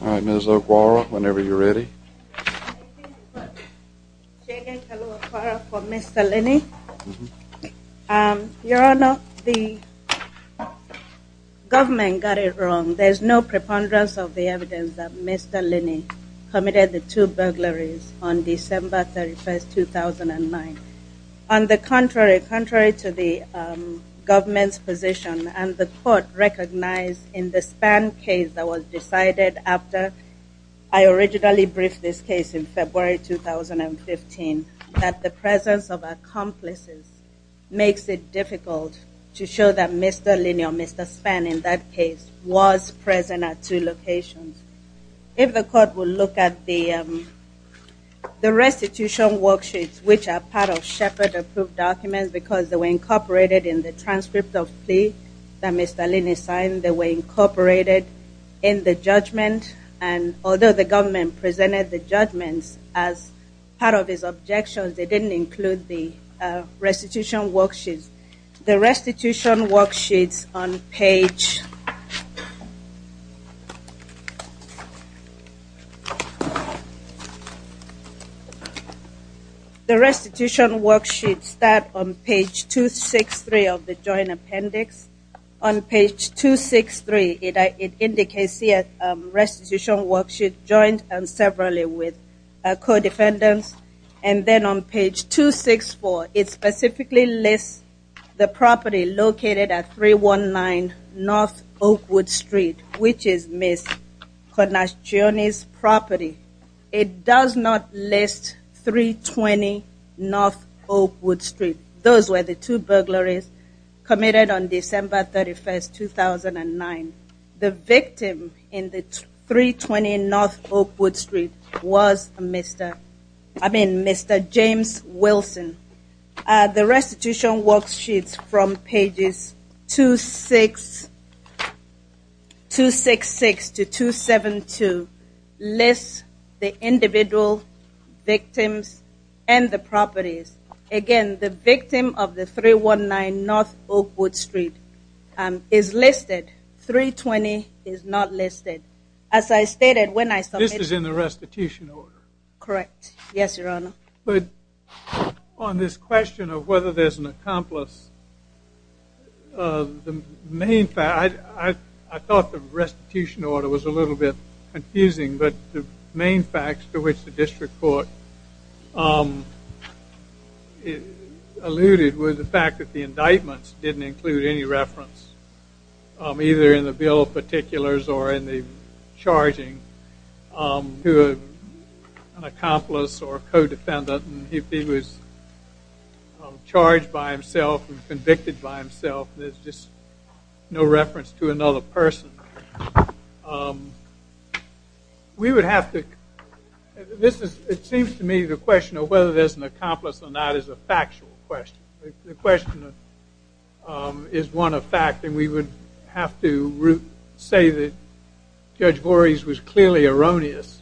All right, Ms. O'Guara, whenever you're ready. I thank you, Mr. Chairman, and hello, O'Guara, for Mr. Linney. Your Honor, the government got it wrong. There's no preponderance of the evidence that Mr. Linney committed the two burglaries on December 31, 2009. On the contrary, contrary to the government's position, and the court recognized in the Spann case that was decided after I originally briefed this case in February 2015, that the presence of accomplices makes it difficult to show that Mr. Linney or Mr. Spann in that case was present at two locations. If the court would look at the restitution worksheets, which are part of Shepard-approved documents because they were incorporated in the transcript of the plea that Mr. Linney signed. They were incorporated in the judgment, and although the government presented the judgments as part of his objections, they didn't include the restitution worksheets. The restitution worksheets start on page 263 of the joint appendix. On page 263, it indicates here restitution worksheets joined severally with co-defendants. And then on page 264, it specifically lists the property located at 319 North Oakwood Street, which is Ms. Conastione's property. It does not list 320 North Oakwood Street. Those were the two burglaries committed on December 31, 2009. The victim in the 320 North Oakwood Street was Mr. James Wilson. The restitution worksheets from pages 266 to 272 list the individual victims and the properties. Again, the victim of the 319 North Oakwood Street is listed. 320 is not listed. This is in the restitution order? Correct. Yes, Your Honor. On this question of whether there's an accomplice, I thought the restitution order was a little bit confusing, but the main facts to which the district court alluded were the fact that the indictments didn't include any reference, either in the bill of particulars or in the charging, to an accomplice or a co-defendant. If he was charged by himself and convicted by himself, there's just no reference to another person. We would have to – it seems to me the question of whether there's an accomplice or not is a factual question. The question is one of fact, and we would have to say that Judge Voorhees was clearly erroneous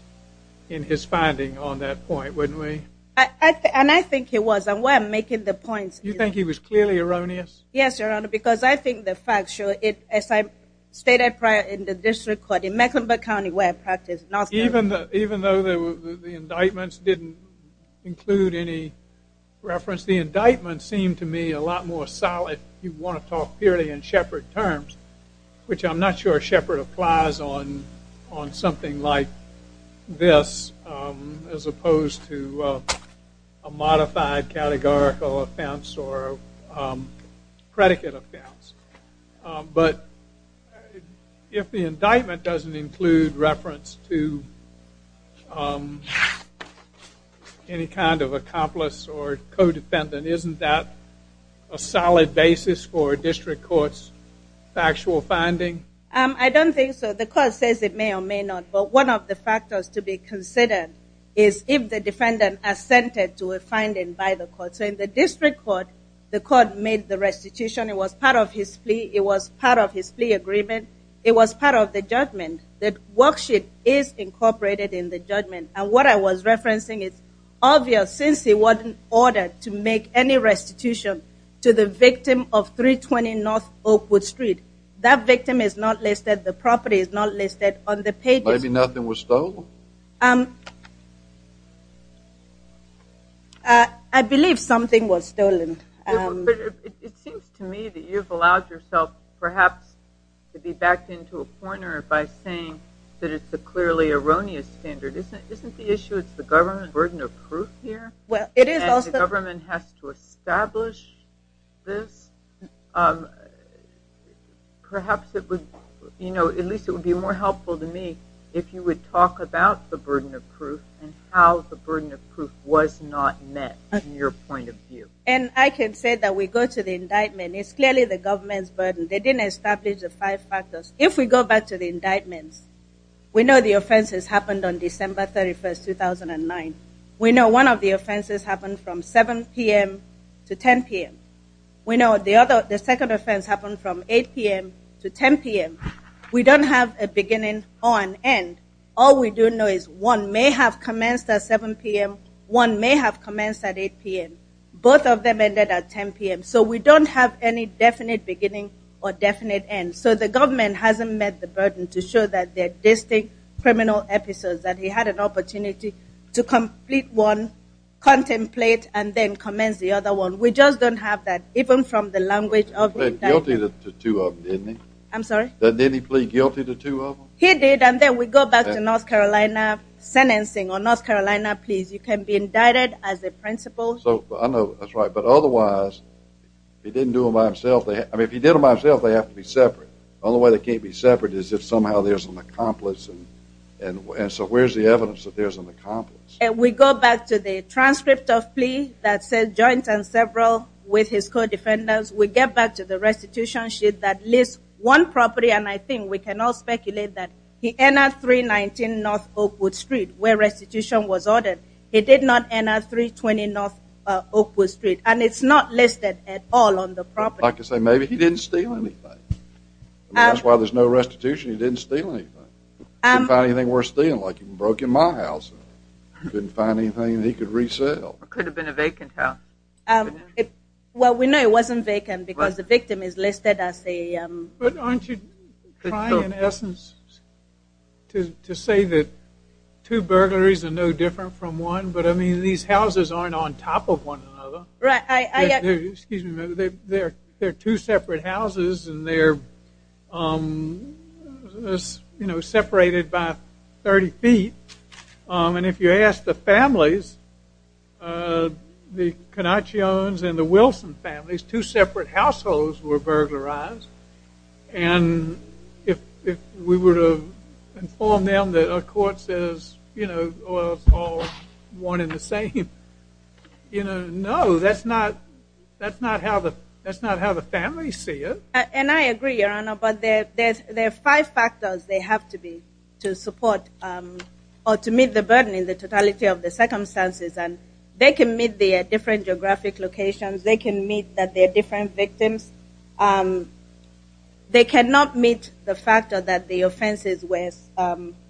in his finding on that point, wouldn't we? And I think he was, and where I'm making the points is – You think he was clearly erroneous? Yes, Your Honor, because I think the facts show it, as I stated prior in the district court, in Mecklenburg County where I practice. Even though the indictments didn't include any reference, the indictments seem to me a lot more solid if you want to talk purely in Shepard terms, which I'm not sure Shepard applies on something like this as opposed to a modified categorical offense or predicate offense. But if the indictment doesn't include reference to any kind of accomplice or co-defendant, isn't that a solid basis for a district court's factual finding? I don't think so. The court says it may or may not, but one of the factors to be considered is if the defendant assented to a finding by the court. So in the district court, the court made the restitution. It was part of his plea. It was part of his plea agreement. It was part of the judgment. The worksheet is incorporated in the judgment. And what I was referencing is obvious. Since he wasn't ordered to make any restitution to the victim of 320 North Oakwood Street, that victim is not listed, the property is not listed on the pages. Maybe nothing was stolen? No. I believe something was stolen. But it seems to me that you've allowed yourself perhaps to be backed into a corner by saying that it's a clearly erroneous standard. Isn't the issue it's the government's burden of proof here and the government has to establish this? Perhaps it would be more helpful to me if you would talk about the burden of proof and how the burden of proof was not met from your point of view. And I can say that we go to the indictment. It's clearly the government's burden. They didn't establish the five factors. If we go back to the indictments, we know the offenses happened on December 31, 2009. We know one of the offenses happened from 7 p.m. to 10 p.m. We know the second offense happened from 8 p.m. to 10 p.m. We don't have a beginning or an end. All we do know is one may have commenced at 7 p.m. One may have commenced at 8 p.m. Both of them ended at 10 p.m. So we don't have any definite beginning or definite end. So the government hasn't met the burden to show that there are distinct criminal episodes, that he had an opportunity to complete one, contemplate, and then commence the other one. We just don't have that, even from the language of the indictment. He pleaded guilty to two of them, didn't he? I'm sorry? Didn't he plead guilty to two of them? He did, and then we go back to North Carolina sentencing or North Carolina pleas. You can be indicted as a principal. I know. That's right. But otherwise, if he didn't do them by himself, I mean, if he did them by himself, they have to be separate. The only way they can't be separate is if somehow there's an accomplice. And so where's the evidence that there's an accomplice? We go back to the transcript of plea that says, Joint and several with his co-defendants. We get back to the restitution sheet that lists one property, and I think we can all speculate that he entered 319 North Oakwood Street where restitution was ordered. He did not enter 320 North Oakwood Street, and it's not listed at all on the property. I could say maybe he didn't steal anything. That's why there's no restitution. He didn't steal anything. Couldn't find anything worth stealing, like he broke in my house. Couldn't find anything that he could resell. It could have been a vacant house. Well, we know it wasn't vacant because the victim is listed as a… But aren't you trying, in essence, to say that two burglaries are no different from one? But, I mean, these houses aren't on top of one another. Right. Excuse me. They're two separate houses, and they're separated by 30 feet. And if you ask the families, the Canachians and the Wilson families, two separate households were burglarized. And if we were to inform them that a court says, you know, well, it's all one and the same, you know, no, that's not how the families see it. And I agree, Your Honor, but there are five factors they have to be to support or to meet the burden in the totality of the circumstances. And they can meet the different geographic locations. They can meet that they're different victims. They cannot meet the fact that the offenses were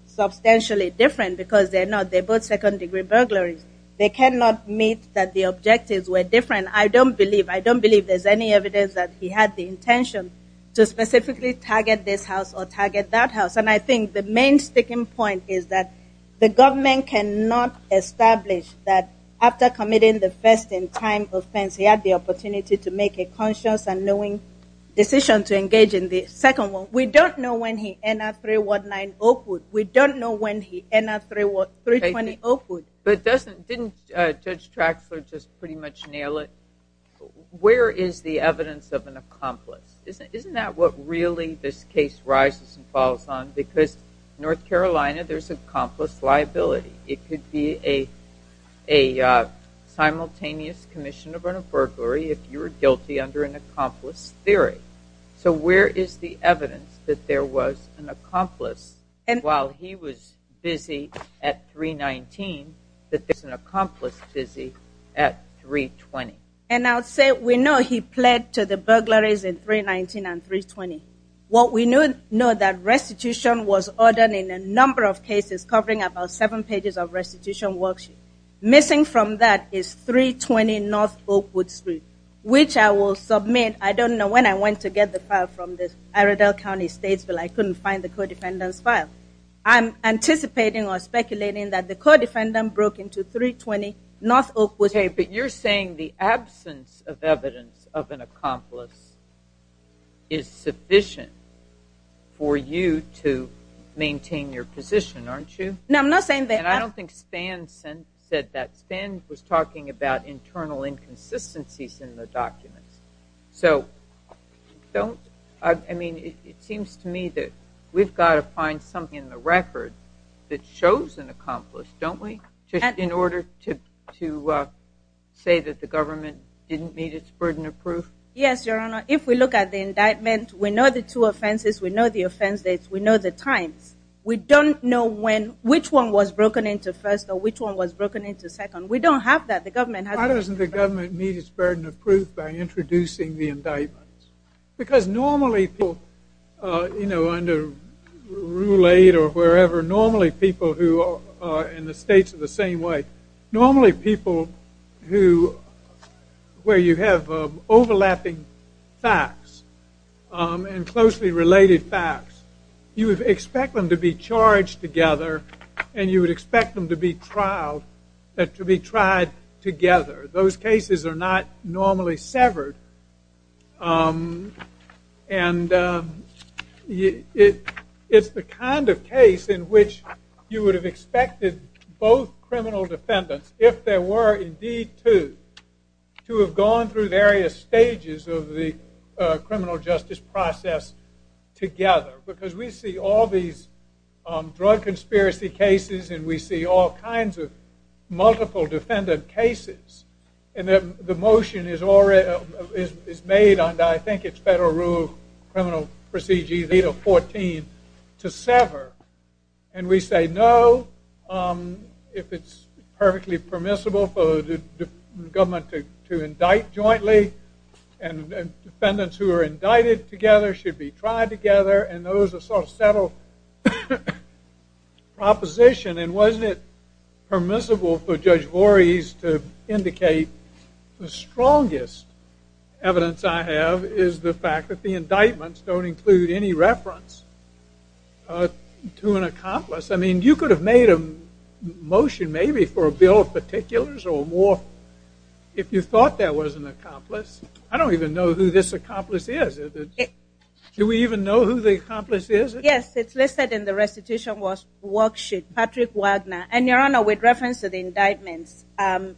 substantially different because they're not. They cannot meet that the objectives were different. I don't believe there's any evidence that he had the intention to specifically target this house or target that house. And I think the main sticking point is that the government cannot establish that after committing the first-in-time offense, he had the opportunity to make a conscious and knowing decision to engage in the second one. We don't know when he entered 319 Oakwood. We don't know when he entered 320 Oakwood. But didn't Judge Traxler just pretty much nail it? Where is the evidence of an accomplice? Isn't that what really this case rises and falls on? Because North Carolina, there's an accomplice liability. It could be a simultaneous commission of an infirmary if you were guilty under an accomplice theory. So where is the evidence that there was an accomplice while he was busy at 319, that there's an accomplice busy at 320? And I'll say we know he pled to the burglaries in 319 and 320. What we know is that restitution was ordered in a number of cases covering about seven pages of restitution worksheet. Missing from that is 320 North Oakwood Street, which I will submit. I don't know when I went to get the file from the Iredell County Statesville. I couldn't find the co-defendant's file. I'm anticipating or speculating that the co-defendant broke into 320 North Oakwood Street. Okay, but you're saying the absence of evidence of an accomplice is sufficient for you to maintain your position, aren't you? No, I'm not saying that. And I don't think Spann said that. Spann was talking about internal inconsistencies in the documents. So I mean, it seems to me that we've got to find something in the record that shows an accomplice, don't we, in order to say that the government didn't meet its burden of proof? Yes, Your Honor. If we look at the indictment, we know the two offenses. We know the offense dates. We know the times. We don't know which one was broken into first or which one was broken into second. We don't have that. Why doesn't the government meet its burden of proof by introducing the indictments? Because normally people, you know, under Rule 8 or wherever, normally people who are in the states of the same way, normally people where you have overlapping facts and closely related facts, you would expect them to be charged together and you would expect them to be tried together. Those cases are not normally severed. And it's the kind of case in which you would have expected both criminal defendants, if there were indeed two, to have gone through various stages of the criminal justice process together. Because we see all these drug conspiracy cases and we see all kinds of multiple defendant cases. And the motion is made under, I think, it's Federal Rule Criminal Procedure 8 or 14 to sever. And we say no if it's perfectly permissible for the government to indict jointly and defendants who are indicted together should be tried together and those are sort of settled proposition. And wasn't it permissible for Judge Vores to indicate the strongest evidence I have is the fact that the indictments don't include any reference to an accomplice. I mean, you could have made a motion maybe for a bill of particulars or more if you thought there was an accomplice. I don't even know who this accomplice is. Do we even know who the accomplice is? Yes, it's listed in the restitution worksheet, Patrick Wagner. And, Your Honor, with reference to the indictments,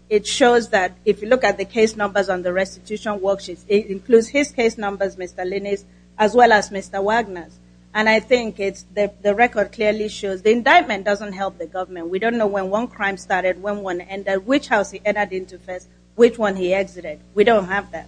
it shows that if you look at the case numbers on the restitution worksheets, it includes his case numbers, Mr. Linnis, as well as Mr. Wagner's. And I think the record clearly shows the indictment doesn't help the government. We don't know when one crime started, when one ended, which house he entered into first, which one he exited. We don't have that.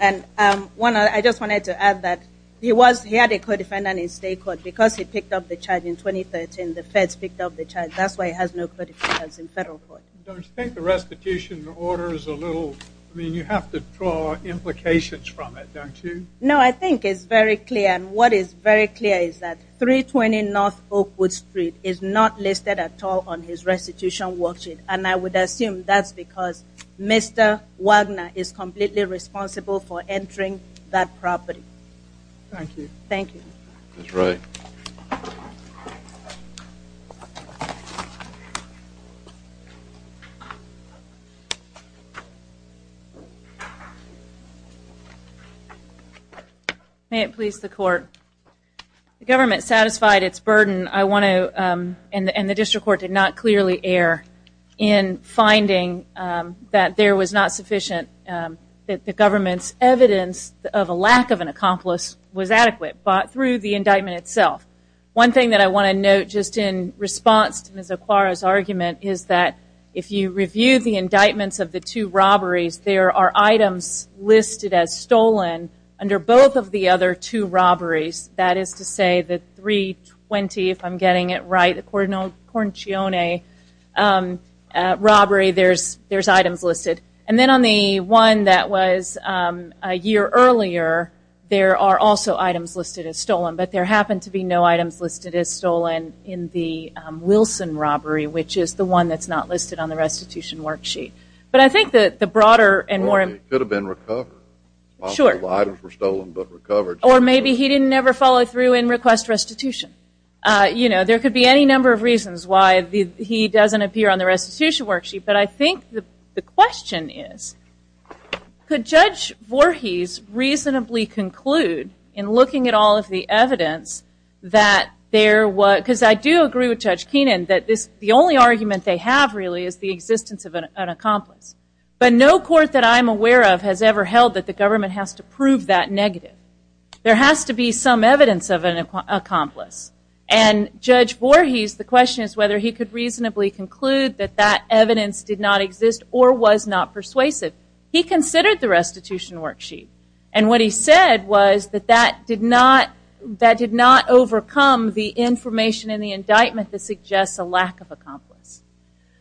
And I just wanted to add that he had a co-defendant in state court because he picked up the charge in 2013. The feds picked up the charge. That's why he has no co-defendants in federal court. Don't you think the restitution order is a little... I mean, you have to draw implications from it, don't you? No, I think it's very clear. And what is very clear is that 320 North Oakwood Street is not listed at all on his restitution worksheet. And I would assume that's because Mr. Wagner is completely responsible for entering that property. Thank you. Thank you. That's right. Thank you. May it please the court. The government satisfied its burden. I want to, and the district court did not clearly err in finding that there was not sufficient, that the government's evidence of a lack of an accomplice was adequate, but through the indictment itself. One thing that I want to note just in response to Ms. Aquara's argument is that if you review the indictments of the two robberies, there are items listed as stolen under both of the other two robberies. That is to say, the 320, if I'm getting it right, the Corncione robbery, there's items listed. And then on the one that was a year earlier, there are also items listed as stolen, but there happen to be no items listed as stolen in the Wilson robbery, which is the one that's not listed on the restitution worksheet. But I think that the broader and more... Well, he could have been recovered. Sure. Lots of items were stolen but recovered. Or maybe he didn't ever follow through and request restitution. You know, there could be any number of reasons why he doesn't appear on the restitution worksheet, but I think the question is, could Judge Voorhees reasonably conclude in looking at all of the evidence that there was... Because I do agree with Judge Keenan that the only argument they have, really, is the existence of an accomplice. But no court that I'm aware of has ever held that the government has to prove that negative. There has to be some evidence of an accomplice. And Judge Voorhees, the question is whether he could reasonably conclude that that evidence did not exist or was not persuasive. He considered the restitution worksheet. And what he said was that that did not overcome the information in the indictment that suggests a lack of accomplice.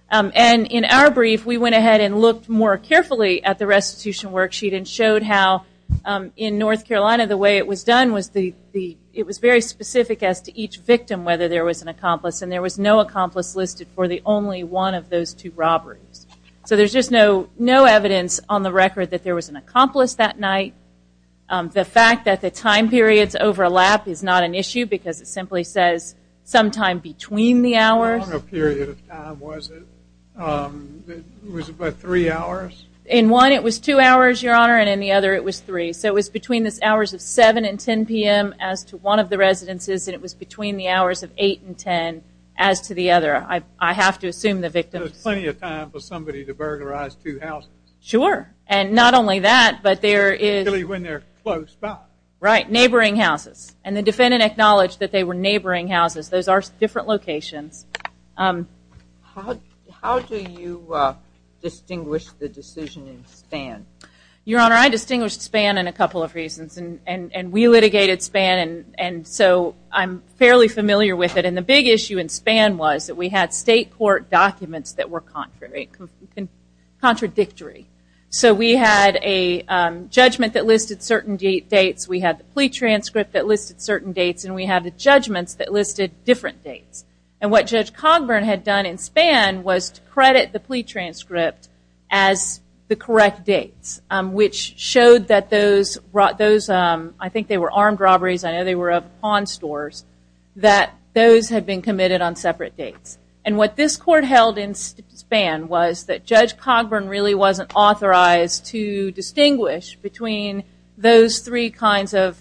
And in our brief, we went ahead and looked more carefully at the restitution worksheet and showed how, in North Carolina, the way it was done, it was very specific as to each victim whether there was an accomplice, and there was no accomplice listed for the only one of those two robberies. So there's just no evidence on the record that there was an accomplice that night. The fact that the time periods overlap is not an issue because it simply says sometime between the hours. How long a period of time was it? Was it about three hours? In one, it was two hours, Your Honor, and in the other, it was three. So it was between the hours of 7 and 10 p.m. as to one of the residences, and it was between the hours of 8 and 10 as to the other. I have to assume the victim... There was plenty of time for somebody to burglarize two houses. Sure, and not only that, but there is... Especially when they're close by. Right, neighboring houses. And the defendant acknowledged that they were neighboring houses. Those are different locations. How do you distinguish the decision in Spann? Your Honor, I distinguished Spann in a couple of reasons. And we litigated Spann, and so I'm fairly familiar with it. And the big issue in Spann was that we had state court documents that were contradictory. So we had a judgment that listed certain dates, we had the plea transcript that listed certain dates, and we had the judgments that listed different dates. And what Judge Cogburn had done in Spann was to credit the plea transcript as the correct dates, which showed that those, I think they were armed robberies, I know they were of pawn stores, that those had been committed on separate dates. And what this court held in Spann was that Judge Cogburn really wasn't authorized to distinguish between those three kinds of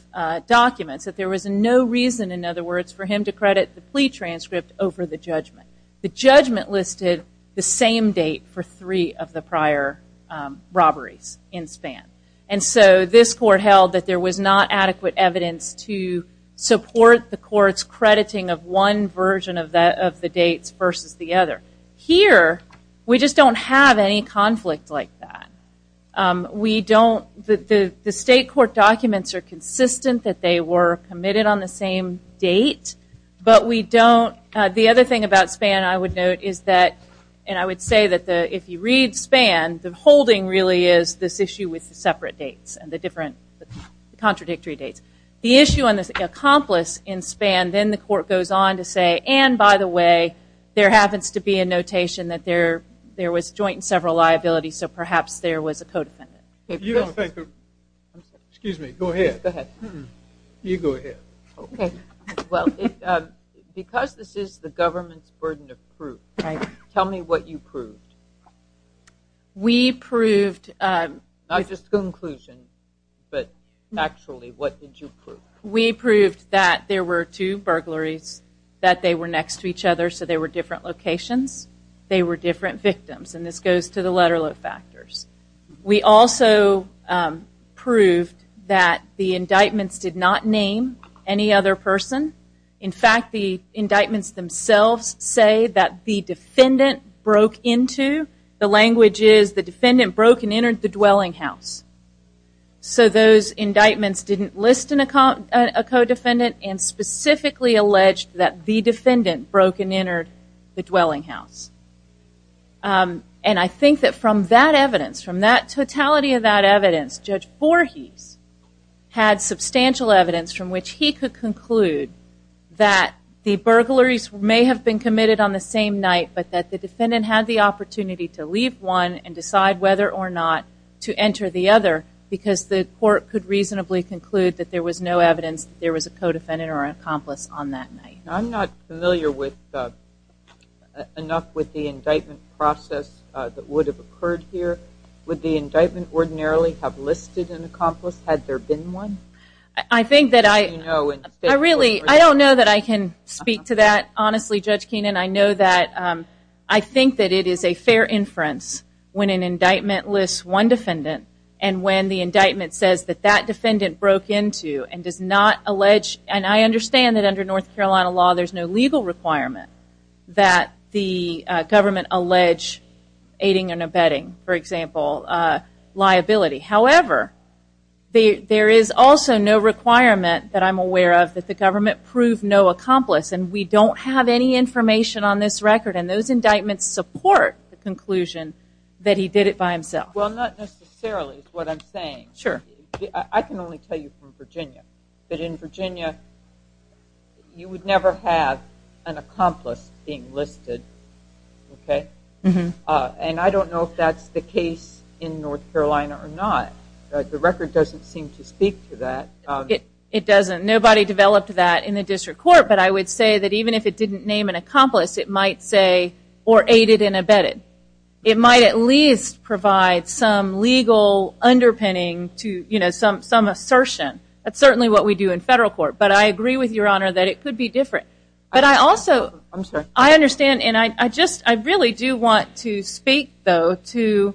documents, that there was no reason, in other words, for him to credit the plea transcript over the judgment. The judgment listed the same date for three of the prior robberies in Spann. And so this court held that there was not adequate evidence to support the court's crediting of one version of the dates versus the other. Here, we just don't have any conflict like that. The state court documents are consistent that they were committed on the same date, but we don't, the other thing about Spann I would note is that, and I would say that if you read Spann, the holding really is this issue with the separate dates, and the different contradictory dates. The issue on the accomplice in Spann, then the court goes on to say, and by the way, there happens to be a notation that there was joint and several liabilities, so perhaps there was a co-defendant. Excuse me, go ahead. Go ahead. You go ahead. Okay. Well, because this is the government's burden of proof, tell me what you proved. We proved... Not just the conclusion, but actually what did you prove? We proved that there were two burglaries, that they were next to each other, so they were different locations, they were different victims, and this goes to the letter load factors. We also proved that the indictments did not name any other person. In fact, the indictments themselves say that the defendant broke into, the language is the defendant broke and entered the dwelling house. So those indictments didn't list a co-defendant and specifically alleged that the defendant broke and entered the dwelling house. And I think that from that evidence, from that totality of that evidence, Judge Voorhees had substantial evidence from which he could conclude that the burglaries may have been committed on the same night, but that the defendant had the opportunity to leave one and decide whether or not to enter the other because the court could reasonably conclude that there was no evidence that there was a co-defendant or an accomplice on that night. I'm not familiar enough with the indictment process that would have occurred here. Would the indictment ordinarily have listed an accomplice had there been one? I don't know that I can speak to that honestly, Judge Keenan. I think that it is a fair inference when an indictment lists one defendant and when the indictment says that that defendant broke into and does not allege, and I understand that under North Carolina law there is no legal requirement that the government allege aiding and abetting, for example, liability. However, there is also no requirement that I'm aware of that the government prove no accomplice and we don't have any information on this record and those indictments support the conclusion that he did it by himself. Well, not necessarily is what I'm saying. Sure. I can only tell you from Virginia, but in Virginia you would never have an accomplice being listed, okay? And I don't know if that's the case in North Carolina or not. The record doesn't seem to speak to that. It doesn't. Nobody developed that in the district court, but I would say that even if it didn't name an accomplice, it might say or aided and abetted. It might at least provide some legal underpinning to some assertion. That's certainly what we do in federal court, but I agree with Your Honor that it could be different. But I also understand and I really do want to speak, though, to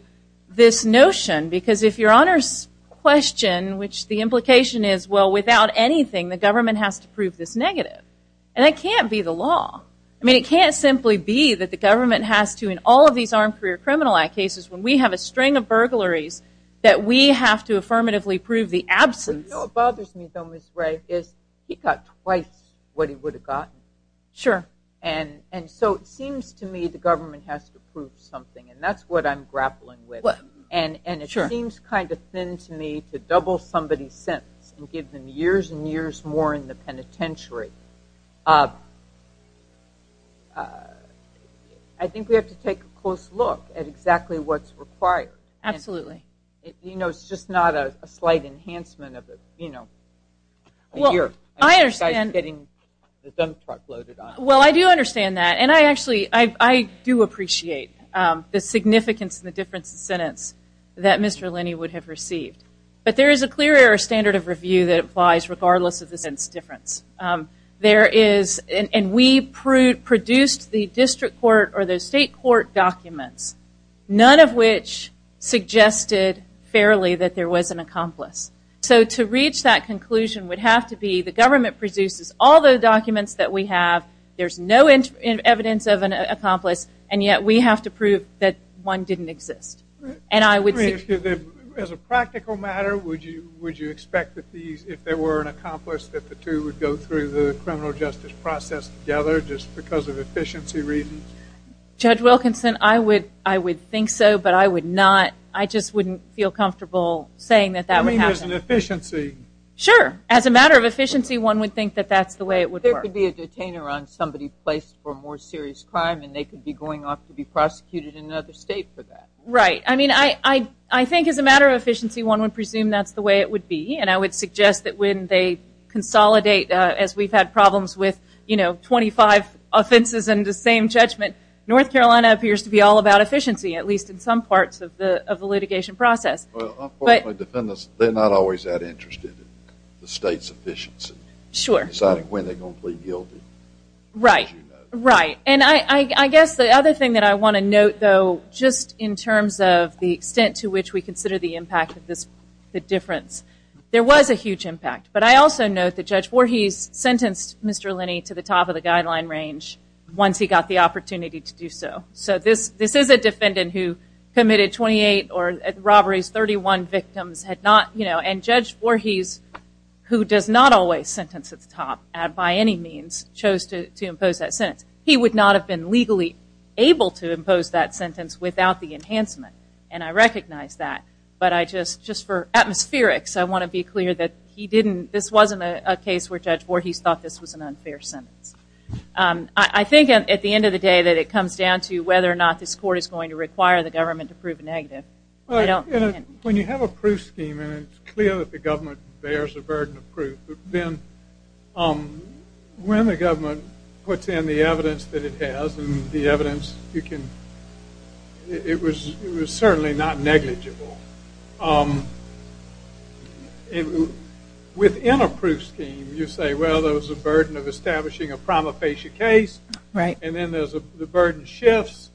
this notion because if Your Honor's question, which the implication is, well, without anything the government has to prove this negative, and that can't be the law. I mean, it can't simply be that the government has to, in all of these Armed Career Criminal Act cases, when we have a string of burglaries, that we have to affirmatively prove the absence. You know what bothers me, though, Ms. Ray, is he got twice what he would have gotten. Sure. And so it seems to me the government has to prove something, and that's what I'm grappling with. And it seems kind of thin to me to double somebody's sentence and give them years and years more in the penitentiary. I think we have to take a close look at exactly what's required. Absolutely. You know, it's just not a slight enhancement of, you know, a year. I understand. Getting the dump truck loaded on them. Well, I do understand that, and I actually do appreciate the significance and the difference in sentence that Mr. Linney would have received. But there is a clear error standard of review that applies regardless of the sentence difference. There is, and we produced the district court or the state court documents, none of which suggested fairly that there was an accomplice. So to reach that conclusion would have to be the government produces all the documents that we have, there's no evidence of an accomplice, and yet we have to prove that one didn't exist. As a practical matter, would you expect that if there were an accomplice, that the two would go through the criminal justice process together just because of efficiency reasons? Judge Wilkinson, I would think so, but I would not. I just wouldn't feel comfortable saying that that would happen. You mean as an efficiency? Sure. As a matter of efficiency, one would think that that's the way it would work. There could be a detainer on somebody placed for a more serious crime, and they could be going off to be prosecuted in another state for that. Right. I mean, I think as a matter of efficiency, one would presume that's the way it would be, and I would suggest that when they consolidate, as we've had problems with 25 offenses and the same judgment, North Carolina appears to be all about efficiency, at least in some parts of the litigation process. Well, unfortunately, defendants, they're not always that interested in the state's efficiency. Sure. Deciding when they're going to plead guilty. Right. And I guess the other thing that I want to note, though, just in terms of the extent to which we consider the impact of the difference, there was a huge impact. But I also note that Judge Voorhees sentenced Mr. Linney to the top of the guideline range once he got the opportunity to do so. So this is a defendant who committed 28 robberies, 31 victims, and Judge Voorhees, who does not always sentence at the top by any means, chose to impose that sentence. He would not have been legally able to impose that sentence without the enhancement, and I recognize that. But just for atmospherics, I want to be clear that this wasn't a case where Judge Voorhees thought this was an unfair sentence. I think at the end of the day that it comes down to whether or not this court is going to require the government to prove a negative. When you have a proof scheme and it's clear that the government bears the burden of proof, then when the government puts in the evidence that it has and the evidence, it was certainly not negligible. Within a proof scheme, you say, well, there was a burden of establishing a prima facie case, and then the burden shifts,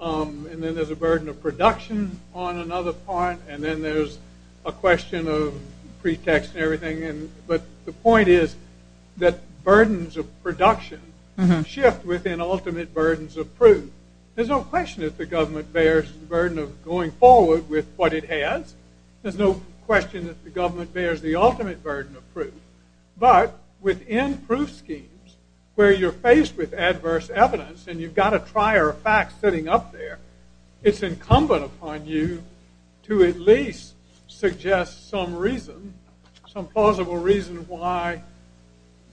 and then there's a burden of production on another point, and then there's a question of pretext and everything. But the point is that burdens of production shift within ultimate burdens of proof. There's no question that the government bears the burden of going forward with what it has. There's no question that the government bears the ultimate burden of proof. But within proof schemes where you're faced with adverse evidence and you've got a trier of facts sitting up there, it's incumbent upon you to at least suggest some reason, some plausible reason why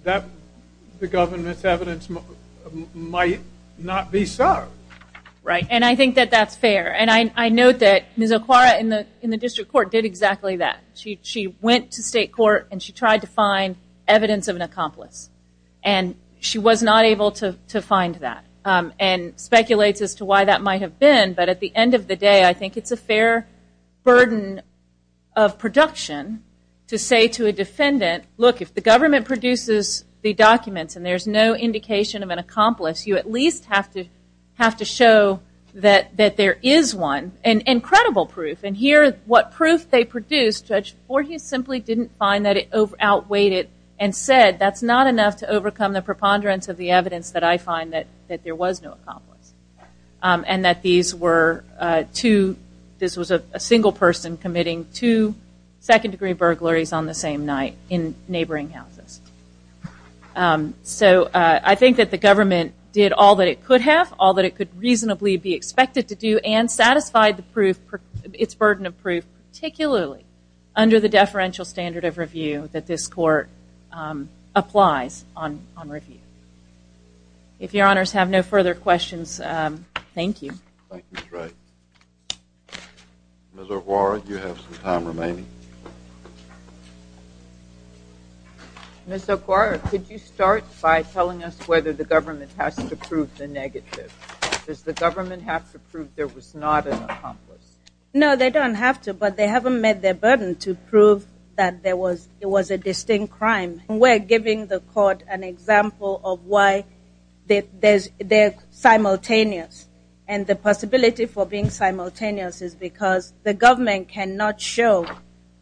the government's evidence might not be so. Right, and I think that that's fair. And I note that Ms. Okwara in the district court did exactly that. She went to state court and she tried to find evidence of an accomplice. And she was not able to find that and speculates as to why that might have been. But at the end of the day, I think it's a fair burden of production to say to a defendant, look, if the government produces the documents and there's no indication of an accomplice, you at least have to show that there is one and credible proof. And here what proof they produced, Judge Voorhees simply didn't find that it outweighed it and said that's not enough to overcome the preponderance of the evidence that I find that there was no accomplice. And that these were two, this was a single person committing two second degree burglaries on the same night in neighboring houses. So I think that the government did all that it could have, all that it could reasonably be expected to do, and satisfied the burden of proof, particularly under the deferential standard of review that this court applies on review. If your honors have no further questions, thank you. Thank you, Ms. Wright. Ms. Okwara, you have some time remaining. Ms. Okwara, could you start by telling us whether the government has to prove the negative? Does the government have to prove there was not an accomplice? No, they don't have to, but they haven't met their burden to prove that there was a distinct crime. We're giving the court an example of why they're simultaneous. And the possibility for being simultaneous is because the government cannot show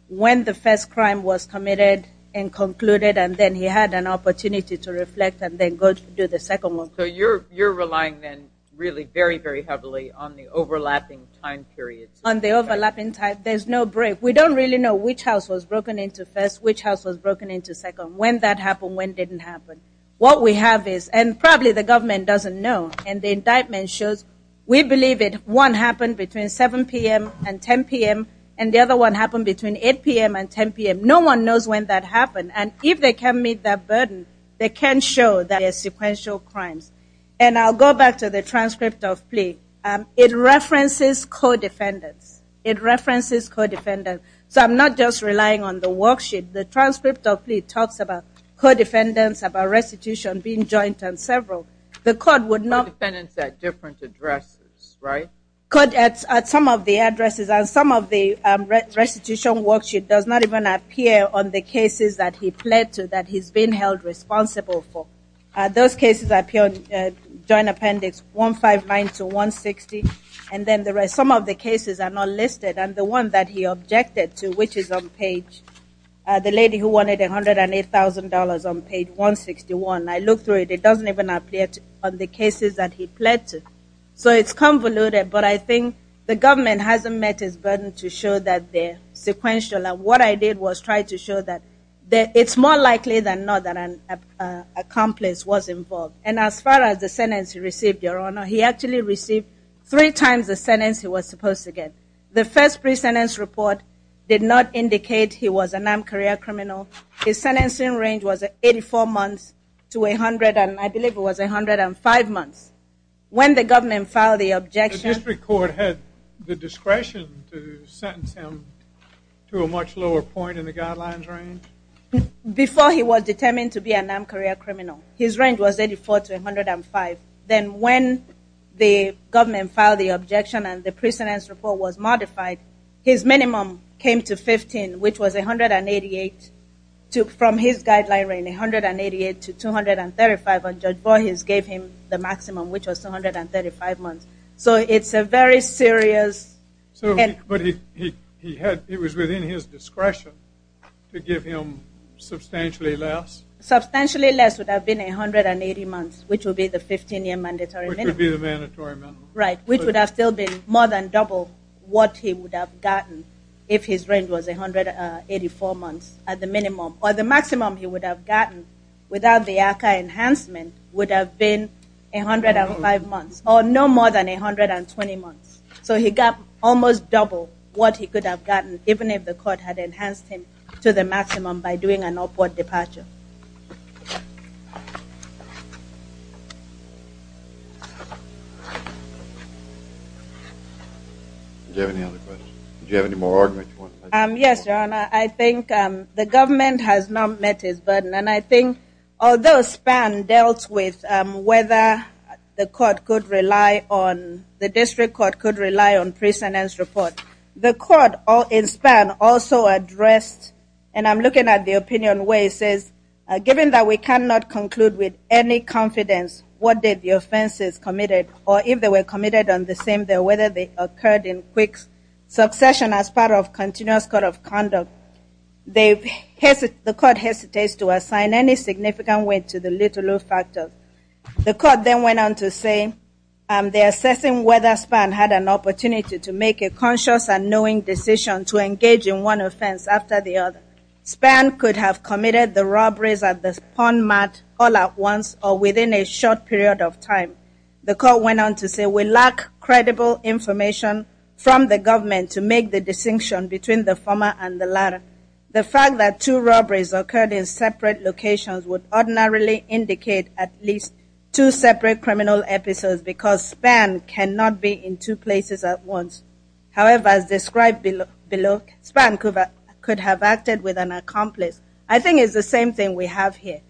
when the first crime was committed and concluded, and then he had an opportunity to reflect and then go do the second one. So you're relying then really very, very heavily on the overlapping time period. On the overlapping time, there's no break. We don't really know which house was broken into first, which house was broken into second, when that happened, when it didn't happen. What we have is, and probably the government doesn't know, and the indictment shows we believe it, one happened between 7 p.m. and 10 p.m., and the other one happened between 8 p.m. and 10 p.m. No one knows when that happened. And if they can meet that burden, they can show that there's sequential crimes. And I'll go back to the transcript of plea. It references co-defendants. It references co-defendants. So I'm not just relying on the worksheet. The transcript of plea talks about co-defendants, about restitution, being joint, and several. The court would not... Co-defendants at different addresses, right? Co-defendants at some of the addresses, and some of the restitution worksheet does not even appear on the cases that he pled to, that he's been held responsible for. Those cases appear on Joint Appendix 159 to 160, and then some of the cases are not listed, and the one that he objected to, which is on page, the lady who wanted $108,000 on page 161. I looked through it. It doesn't even appear on the cases that he pled to. So it's convoluted, but I think the government hasn't met its burden to show that they're sequential. And what I did was try to show that it's more likely than not that an accomplice was involved. And as far as the sentence he received, Your Honor, he actually received three times the sentence he was supposed to get. The first pre-sentence report did not indicate he was a NAMM career criminal. His sentencing range was 84 months to 100, and I believe it was 105 months. When the government filed the objection... The district court had the discretion to sentence him to a much lower point in the guidelines range? Before he was determined to be a NAMM career criminal, his range was 84 to 105. Then when the government filed the objection and the pre-sentence report was modified, his minimum came to 15, which was 188. From his guideline range, 188 to 235, and Judge Borges gave him the maximum, which was 235 months. So it's a very serious... But he was within his discretion to give him substantially less? Substantially less would have been 180 months, which would be the 15-year mandatory minimum. Which would be the mandatory minimum. Right, which would have still been more than double what he would have gotten if his range was 184 months at the minimum. Or the maximum he would have gotten without the ARCA enhancement would have been 105 months, or no more than 120 months. So he got almost double what he could have gotten, even if the court had enhanced him to the maximum by doing an upward departure. Do you have any other questions? Do you have any more arguments you want to make? Yes, Your Honor. I think the government has not met his burden, and I think although SPAN dealt with whether the court could rely on, the district court could rely on pre-sentence report, the court in SPAN also addressed, and I'm looking at the opinion where it says, given that we cannot conclude with any confidence what did the offenses committed, or if they were committed on the same day, or whether they occurred in quick succession as part of continuous code of conduct, the court hesitates to assign any significant weight to the little or no factor. The court then went on to say, the assessing whether SPAN had an opportunity to make a conscious and knowing decision to engage in one offense after the other. SPAN could have committed the robberies at the pawn mart all at once, or within a short period of time. The court went on to say, we lack credible information from the government to make the distinction between the former and the latter. The fact that two robberies occurred in separate locations would ordinarily indicate at least two separate criminal episodes because SPAN cannot be in two places at once. However, as described below, SPAN could have acted with an accomplice. I think it's the same thing we have here.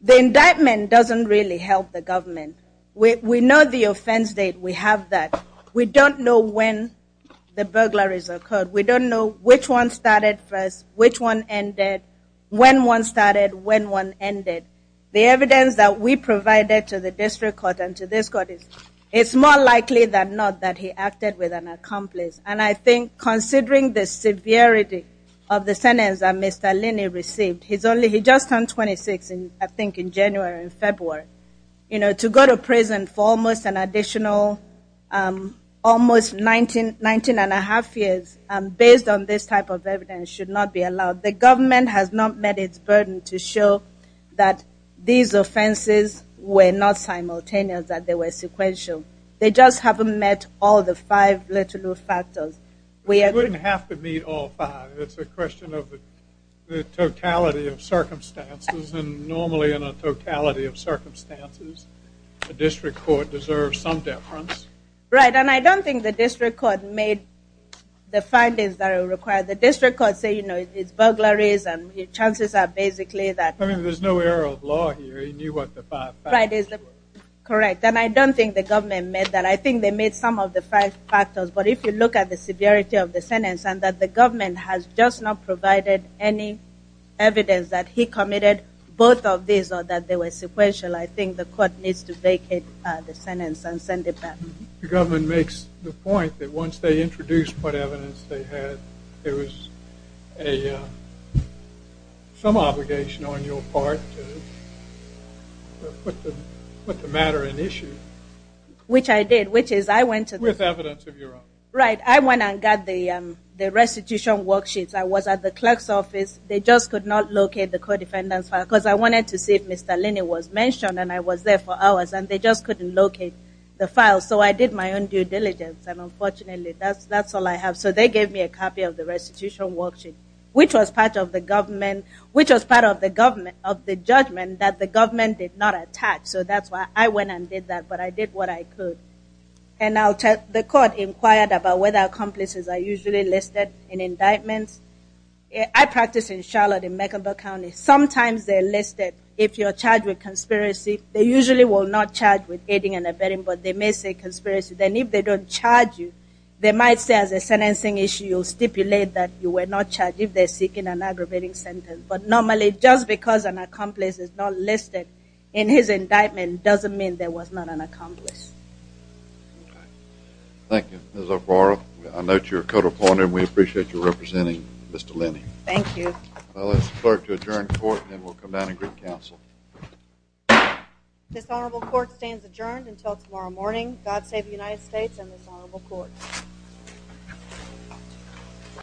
The indictment doesn't really help the government. We know the offense date. We have that. We don't know when the burglaries occurred. We don't know which one started first, which one ended, when one started, when one ended. The evidence that we provided to the district court and to this court is, it's more likely than not that he acted with an accomplice. And I think, considering the severity of the sentence that Mr. Linney received, he just turned 26, I think, in January or February, to go to prison for almost 19 and a half years, based on this type of evidence, should not be allowed. The government has not met its burden to show that these offenses were not simultaneous, that they were sequential. They just haven't met all the five literal factors. We agree. It wouldn't have to meet all five. It's a question of the totality of circumstances, and normally in a totality of circumstances, a district court deserves some deference. Right. And I don't think the district court made the findings that are required. The district court said, you know, it's burglaries and chances are basically that. I mean, there's no error of law here. He knew what the five factors were. Correct. And I don't think the government met that. I think they met some of the five factors. But if you look at the severity of the sentence and that the government has just not provided any evidence that he committed both of these or that they were sequential, I think the court needs to vacate the sentence and send it back. The government makes the point that once they introduced what evidence they had, there was some obligation on your part to put the matter in issue. Which I did. With evidence of your own. Right. I went and got the restitution worksheets. I was at the clerk's office. They just could not locate the co-defendant's file because I wanted to see if Mr. Linney was mentioned, and I was there for hours, and they just couldn't locate the file. So I did my own due diligence, and unfortunately that's all I have. So they gave me a copy of the restitution worksheet, which was part of the judgment that the government did not attack. So that's why I went and did that. But I did what I could. And the court inquired about whether accomplices are usually listed in indictments. I practice in Charlotte, in Mecklenburg County. Sometimes they're listed if you're charged with conspiracy. They usually will not charge with aiding and abetting, but they may say conspiracy. Then if they don't charge you, they might say as a sentencing issue, you'll stipulate that you were not charged if they're seeking an aggravating sentence. But normally just because an accomplice is not listed in his indictment doesn't mean there was not an accomplice. Okay. Thank you. Ms. O'Farrill, I note you're a co-defendant, and we appreciate you representing Mr. Linney. Thank you. I'll ask the clerk to adjourn court, and we'll come down and greet counsel. This honorable court stands adjourned until tomorrow morning. God save the United States and this honorable court.